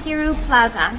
Tiru-Plaza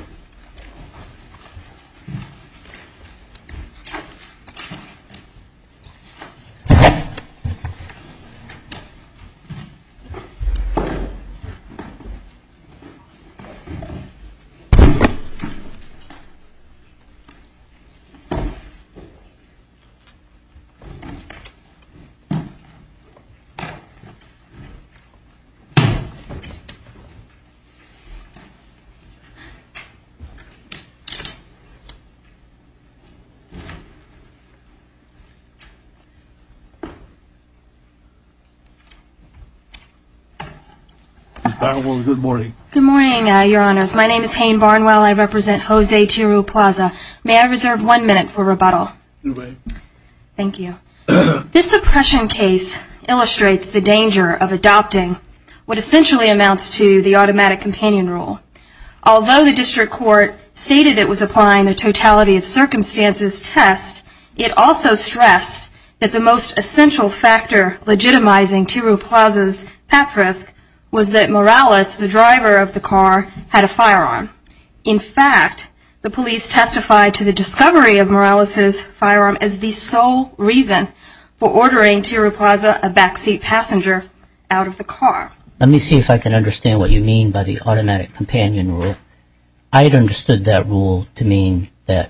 Good morning, Your Honors. My name is Hayne Barnwell. I represent Jose Tiru-Plaza. May I reserve one minute for rebuttal? You may. Thank you. This suppression case illustrates the danger of adopting what essentially amounts to the Although the district court stated it was applying the totality of circumstances test, it also stressed that the most essential factor legitimizing Tiru-Plaza's pap frisk was that Morales, the driver of the car, had a firearm. In fact, the police testified to the discovery of Morales's firearm as the sole reason for ordering Tiru-Plaza, a backseat passenger, out of the car. Let me see if I can understand what you mean by the automatic companion rule. I had understood that rule to mean that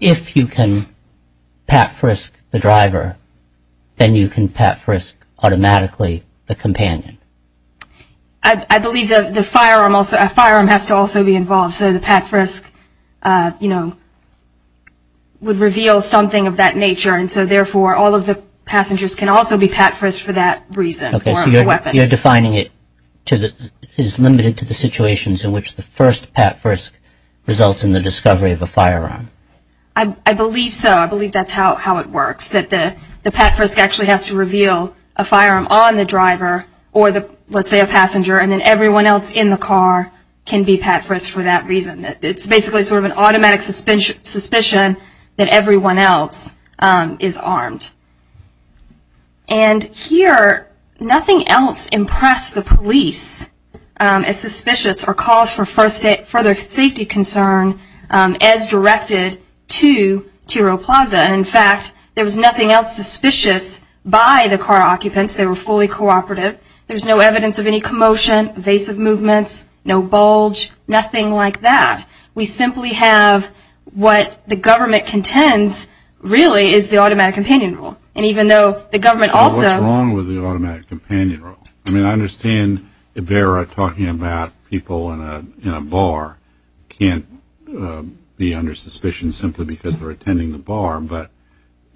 if you can pap frisk the driver, then you can pap frisk automatically the companion. I believe the firearm has to also be involved, so the pap frisk, you know, would reveal something of that nature, and so therefore all of the passengers can also be pap frisked for that reason. Okay, so you're defining it as limited to the situations in which the first pap frisk results in the discovery of a firearm. I believe so. I believe that's how it works, that the pap frisk actually has to reveal a firearm on the driver, or let's say a passenger, and then everyone else in the car can be pap frisked for that reason. It's basically sort of an automatic suspicion that everyone else is armed. And here, nothing else impressed the police as suspicious or calls for further safety concern as directed to Tiru-Plaza. In fact, there was nothing else suspicious by the car occupants. They were fully cooperative. There's no evidence of any commotion, evasive movements, no bulge, nothing like that. We simply have what the government contends really is the automatic companion role, and even though the government also... What's wrong with the automatic companion role? I mean, I understand Ibarra talking about people in a bar can't be under suspicion simply because they're attending the bar, but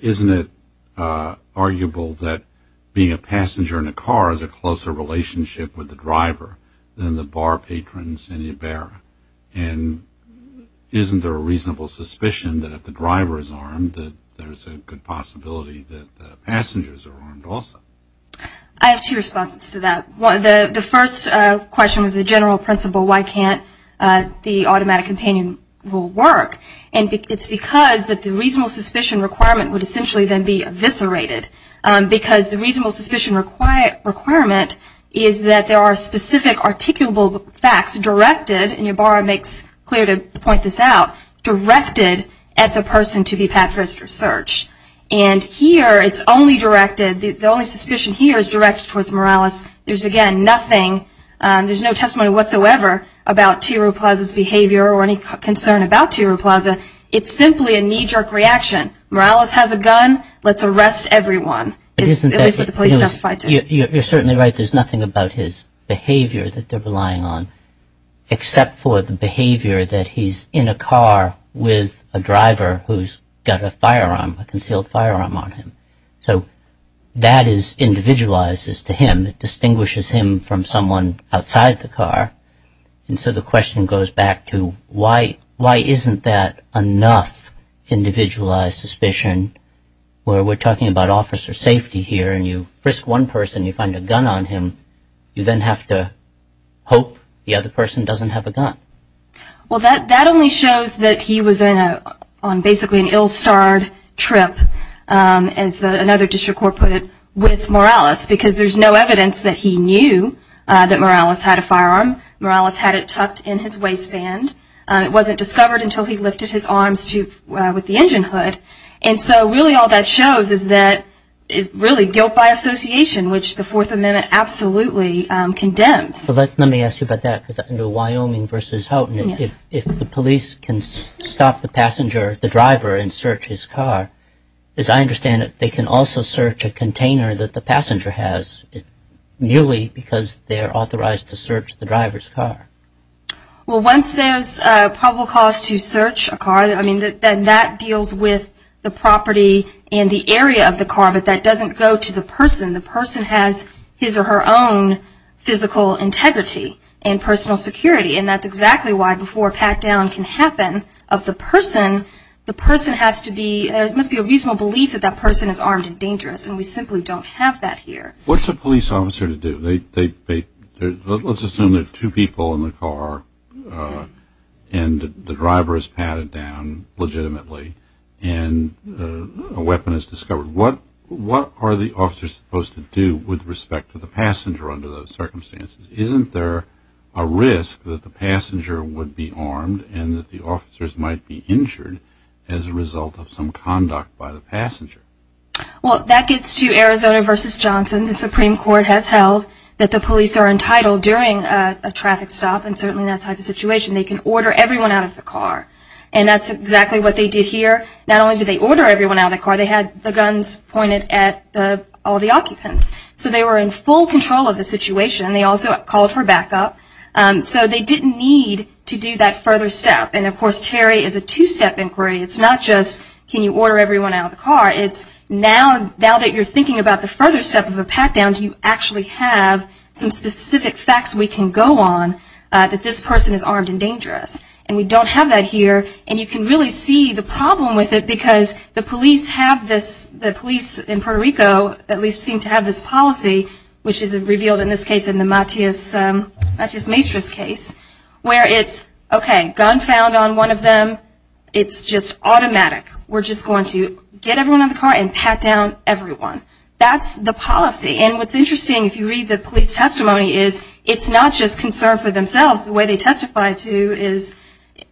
isn't it arguable that being a passenger in a car has a closer relationship with the driver than the bar patrons in Ibarra? And isn't there a reasonable suspicion that if the driver is armed, that there's a good possibility that the passengers are armed also? I have two responses to that. The first question is a general principle, why can't the automatic companion role work? And it's because the reasonable suspicion requirement would essentially then be eviscerated, because the reasonable suspicion requirement is that there are specific articulable facts directed, and Ibarra makes clear to point this out, directed at the person to be pat for his search. And here it's only directed, the only suspicion here is directed towards Morales. There's again nothing, there's no testimony whatsoever about Tiro Plaza's behavior or any concern about Tiro Plaza. It's simply a knee-jerk reaction. Morales has a gun, let's arrest everyone, at least what the police testified to. You're certainly right, there's nothing about his behavior that they're relying on, except for the behavior that he's in a car with a driver who's got a firearm, a concealed firearm on him. So that is individualized as to him, it distinguishes him from someone outside the car. And so the question goes back to why isn't that enough individualized suspicion where we're talking about officer safety here, and you frisk one person, you find a gun on him, you then have to hope the other person doesn't have a gun. Well that only shows that he was on basically an ill-starred trip, as another district court put it, with Morales, because there's no evidence that he knew that Morales had a firearm. Morales had it tucked in his waistband. It wasn't discovered until he lifted his arms with the engine hood. And so really all that shows is that it's really guilt by association, which the Fourth Amendment absolutely condemns. Let me ask you about that, because under Wyoming v. Houghton, if the police can stop the passenger, the driver, and search his car, as I understand it, they can also search a container that the passenger has, merely because they're authorized to search the driver's car. Well once there's probable cause to search a car, then that deals with the property and the area of the car, but that doesn't go to the person. The person has his or her own physical integrity and personal security, and that's exactly why before a pat-down can happen of the person, the person has to be, there must be a reasonable belief that that person is armed and dangerous, and we simply don't have that here. What's a police officer to do? Let's assume there are two people in the car, and the driver is patted down legitimately, and a weapon is discovered. What are the officers supposed to do with respect to the passenger under those circumstances? Isn't there a risk that the passenger would be armed, and that the officers might be injured as a result of some conduct by the passenger? Well that gets to Arizona v. Johnson. The Supreme Court has held that the police are entitled during a traffic stop, and certainly that type of situation, they can order everyone out of the car, and that's exactly what they did here. Not only did they order everyone out of the car, they had the guns pointed at all the occupants, so they were in full control of the situation. They also called for backup, so they didn't need to do that further step, and of course Terry is a two-step inquiry. It's not just can you order everyone out of the car, it's now that you're thinking about the further step of a pat-down, do you actually have some specific facts we can go on that this person is armed and dangerous, and we don't have that here, and you can really see the problem with it because the police have this, the police in Puerto Rico at least seem to have this policy, which is revealed in this case in the Matias Maestros case, where it's okay, gun found on one of them, it's just automatic. We're just going to get everyone out of the car and pat down everyone. That's the policy, and what's interesting if you read the police testimony is it's not just concern for themselves, the way they testified to is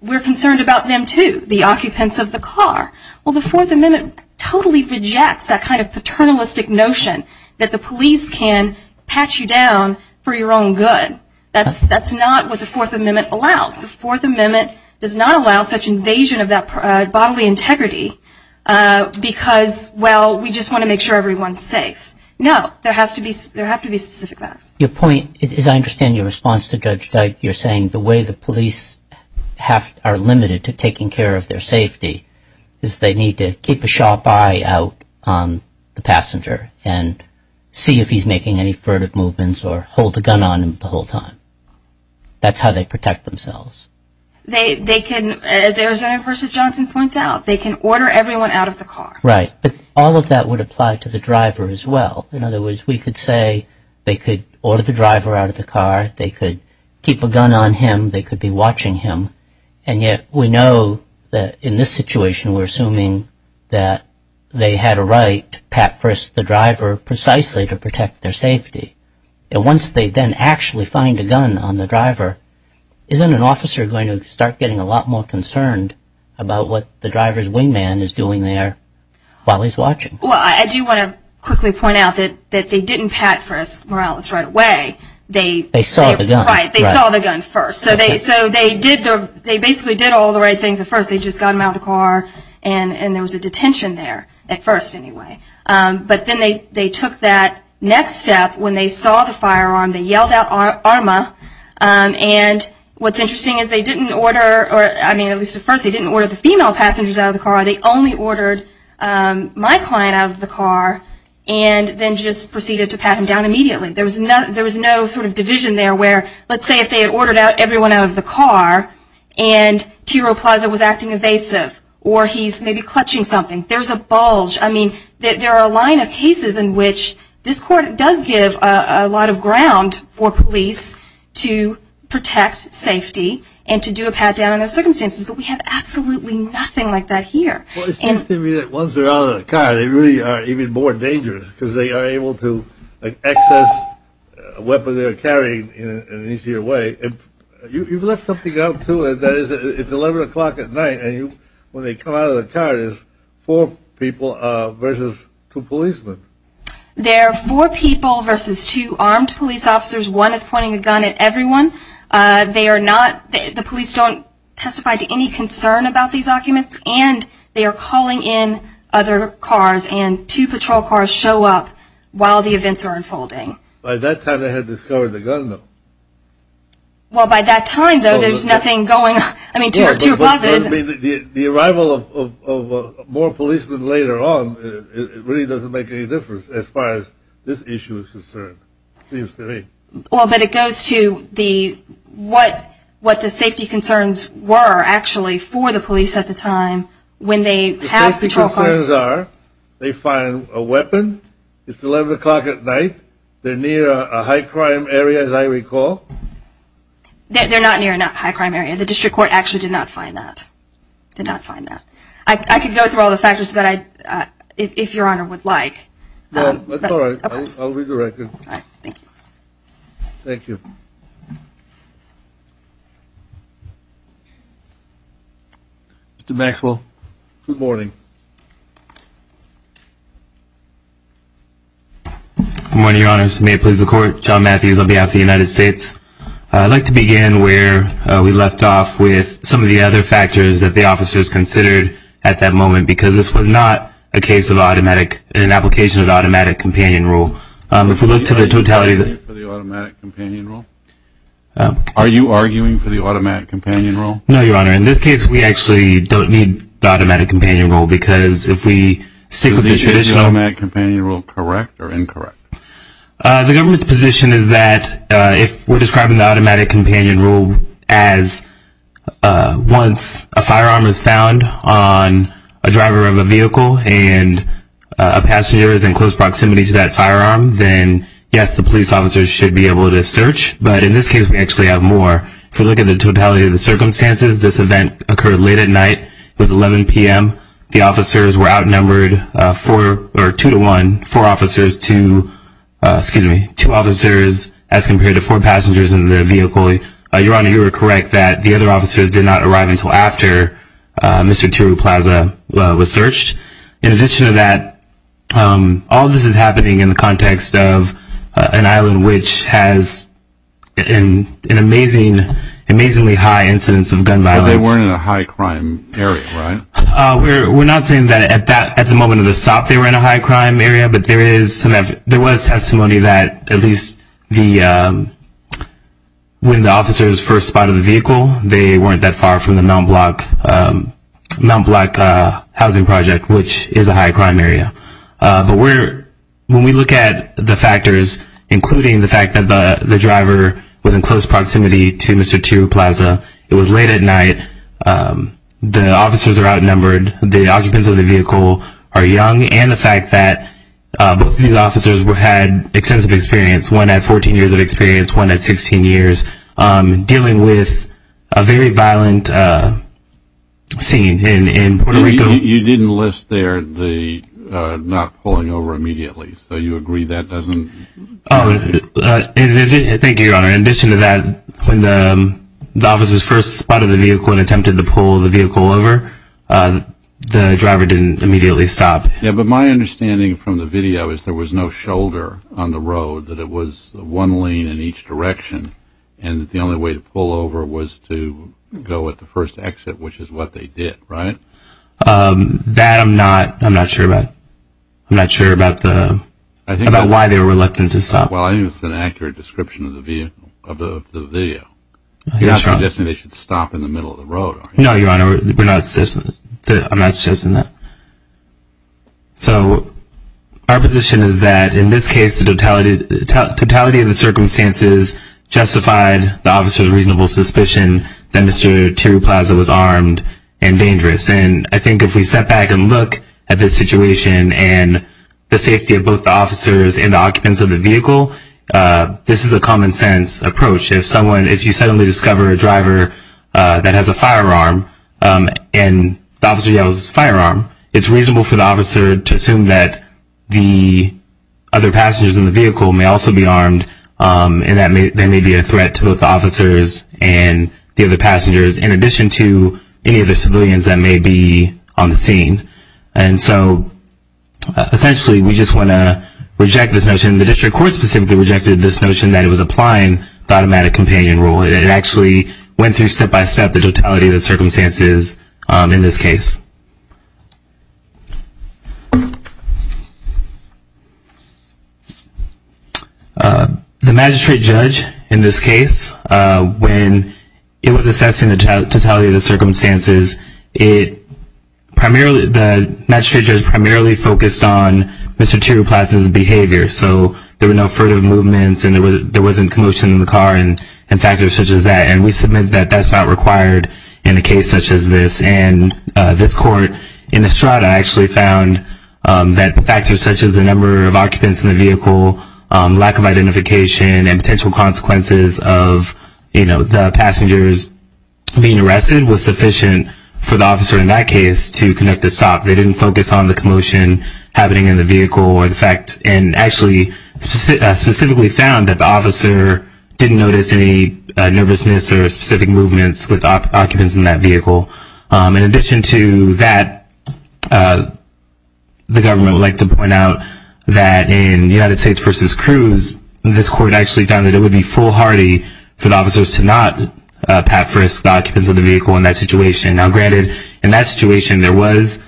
we're concerned about them too, the occupants of the car. Well the Fourth Amendment totally rejects that kind of paternalistic notion that the police can pat you down for your own good. That's not what the Fourth Amendment allows. The Fourth Amendment does not allow such invasion of that bodily integrity because well, we just want to make sure everyone's safe. No, there have to be specific facts. Your point, as I understand your response to Judge Dyke, you're saying the way the police are limited to taking care of their safety is they need to keep a sharp eye out on the passenger and see if he's making any furtive movements or hold a gun on him the whole time. That's how they protect themselves. They can, as Arizona versus Johnson points out, they can order everyone out of the car. Right, but all of that would apply to the driver as well. In other words, we could say they could order the driver out of the car, they could keep a gun on him, they could be watching him, and yet we know that in this situation we're assuming that they had a right to pat first the driver precisely to protect their safety. And once they then actually find a gun on the driver, isn't an officer going to start getting a lot more concerned about what the driver's wingman is doing there while he's watching? Well, I do want to quickly point out that they didn't pat first Morales right away. They saw the gun. Right, they saw the gun first. So they basically did all the right things at first, they just got him out of the car, and there was a detention there at first anyway. But then they took that next step when they saw the firearm, they yelled out ARMA, and what's interesting is they didn't order, or at least at first they didn't order the female passengers out of the car, they only ordered my client out of the car, and then just proceeded to pat him down immediately. There was no sort of division there where, let's say if they had ordered everyone out of the car and Tiro Plaza was acting evasive, or he's maybe clutching something, there's a bulge. I mean, there are a line of cases in which this court does give a lot of ground for police to protect safety and to do a pat down in those circumstances, but we have absolutely nothing like that here. Well it seems to me that once they're out of the car, they really are even more dangerous because they are able to access a weapon they're carrying in an easier way. You've left something out too, that is, it's 11 o'clock at night, and when they come out of the car, it's four people versus two policemen. They're four people versus two armed police officers. One is pointing a gun at everyone. They are not, the police don't testify to any concern about these documents, and they are calling in other cars, and two patrol cars show up while the events are unfolding. By that time they had discovered the gun, though. Well by that time, though, there's nothing going on. I mean, Tiro Plaza isn't... The arrival of more policemen later on, it really doesn't make any difference as far as this issue is concerned, it seems to me. Well, but it goes to what the safety concerns were, actually, for the police at the time when they have patrol cars... The safety concerns are, they find a weapon, it's 11 o'clock at night, they're near a high crime area, as I recall. They're not near a high crime area. The district court actually did not find that. Did not find that. I could go through all the factors, but I, if your honor would like... No, that's all right. I'll read the record. All right, thank you. Thank you. Mr. Maxwell, good morning. Good morning, your honors. May it please the court, John Matthews on behalf of the United States. I'd like to begin where we left off with some of the other factors that the officers considered at that moment, because this was not a case of automatic, an application of automatic companion rule. Are you arguing for the automatic companion rule? Are you arguing for the automatic companion rule? No, your honor. In this case, we actually don't need the automatic companion rule because if we stick with the traditional... Is the automatic companion rule correct or incorrect? The government's position is that if we're describing the automatic companion rule as once a firearm is found on a driver of a vehicle and a passenger is in close proximity to that firearm, then yes, the police officers should be able to search, but in this case, we actually have more. If we look at the totality of the circumstances, this event occurred late at night. It was 11 p.m. The officers were outnumbered two to one, four officers to, excuse me, two officers as compared to four passengers in their vehicle. Your honor, you were correct that the other officers did not arrive until after Mr. Tiru Plaza was searched. In addition to that, all this is happening in the context of an island which has an amazingly high incidence of gun violence. But they weren't in a high crime area, right? We're not saying that at the moment of the stop they were in a high crime area, but there was testimony that at least when the officers first spotted the vehicle, they weren't that far from the Mount Block housing project, which is a high crime area. But when we look at the factors, including the fact that the driver was in close proximity to Mr. Tiru Plaza, it was late at night, the officers are outnumbered, the occupants of the vehicle are young, and the fact that both of these officers had extensive experience, one at 14 years of experience, one at 16 years, dealing with a very violent scene in Puerto Rico. You didn't list there the not pulling over immediately, so you agree that doesn't... Thank you, your honor. In addition to that, when the officers first spotted the vehicle and attempted to pull the vehicle over, the driver didn't immediately stop. But my understanding from the video is there was no shoulder on the road, that it was one lane in each direction, and that the only way to pull over was to go at the first exit, which is what they did, right? That I'm not sure about. I'm not sure about why they were reluctant to stop. Well, I think that's an accurate description of the video. You're not suggesting they should stop in the middle of the road, are you? No, your honor. I'm not suggesting that. So our position is that, in this case, the totality of the circumstances justified the officer's reasonable suspicion that Mr. Tiru Plaza was armed and dangerous. And I think if we step back and look at this situation, and the safety of both the officers and the occupants of the vehicle, this is a common sense approach. If you suddenly discover a driver that has a firearm, and the officer yells firearm, it's reasonable for the officer to assume that the other passengers in the vehicle may also be armed, and that there may be a threat to both the officers and the other passengers, in addition to any of the civilians that may be on the scene. And so, essentially, we just want to reject this notion. And the district court specifically rejected this notion that it was applying the automatic companion rule. It actually went through, step by step, the totality of the circumstances in this case. The magistrate judge, in this case, when it was assessing the totality of the circumstances, the magistrate judge primarily focused on Mr. Tiru Plaza's behavior. So there were no furtive movements, and there wasn't commotion in the car, and factors such as that. And we submit that that's not required in a case such as this. And this court, in Estrada, actually found that factors such as the number of occupants in the vehicle, lack of identification, and potential consequences of the passengers being arrested was sufficient for the officer, in that case, to conduct a stop. They didn't focus on the commotion happening in the vehicle, or the fact, and actually specifically found that the officer didn't notice any nervousness or specific movements with the occupants in that vehicle. In addition to that, the government would like to point out that in United States v. Cruz, this court actually found that it would be foolhardy for the officers to not pat first the occupants of the vehicle in that situation. Now granted, in that situation, there was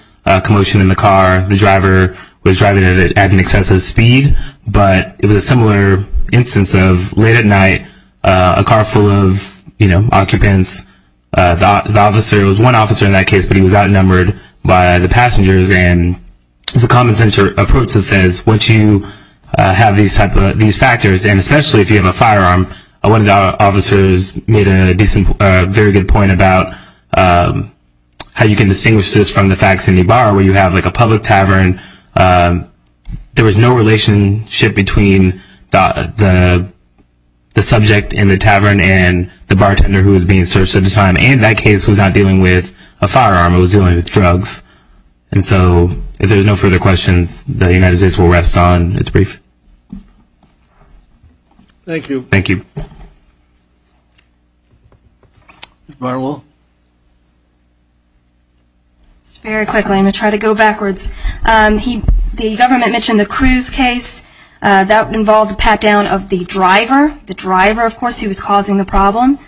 commotion in the car. The driver was driving at an excessive speed, but it was a similar instance of late at night, a car full of, you know, occupants, the officer, it was one officer in that case, but he was outnumbered by the passengers. And it's a common-sense approach that says, once you have these factors, and especially if you have a firearm, one of the officers made a very good point about how you can distinguish this from the facts in the bar, where you have like a public tavern. There was no relationship between the subject in the tavern and the bartender who was being searched at the time. And that case was not dealing with a firearm, it was dealing with drugs. And so, if there are no further questions, the United States will rest on its brief. Thank you. Thank you. Ms. Barwell? Very quickly, I'm going to try to go backwards. The government mentioned the Cruz case, that involved the pat-down of the driver, the driver of course who was causing the problem,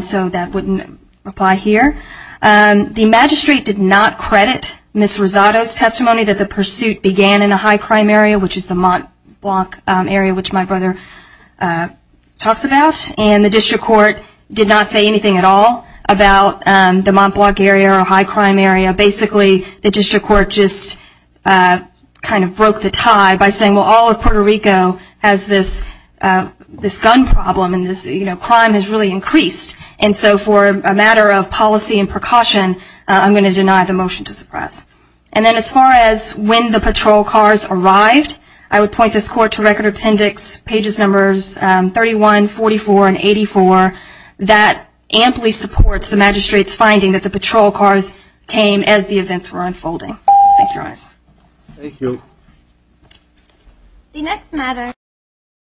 so that wouldn't apply here. The magistrate did not credit Ms. Rosado's testimony that the pursuit began in a high crime area, which is the Mont Blanc area, which my brother talks about. And the district court did not say anything at all about the Mont Blanc area or high crime area. Basically, the district court just kind of broke the tie by saying, well, all of Puerto Rico has this gun problem, and this crime has really increased. And so, for a matter of policy and precaution, I'm going to deny the motion to suppress. And then as far as when the patrol cars arrived, I would point this court to Record Appendix pages numbers 31, 44, and 84, that amply supports the magistrate's finding that the patrol cars came as the events were unfolding. Thank you, Your Honors. Thank you.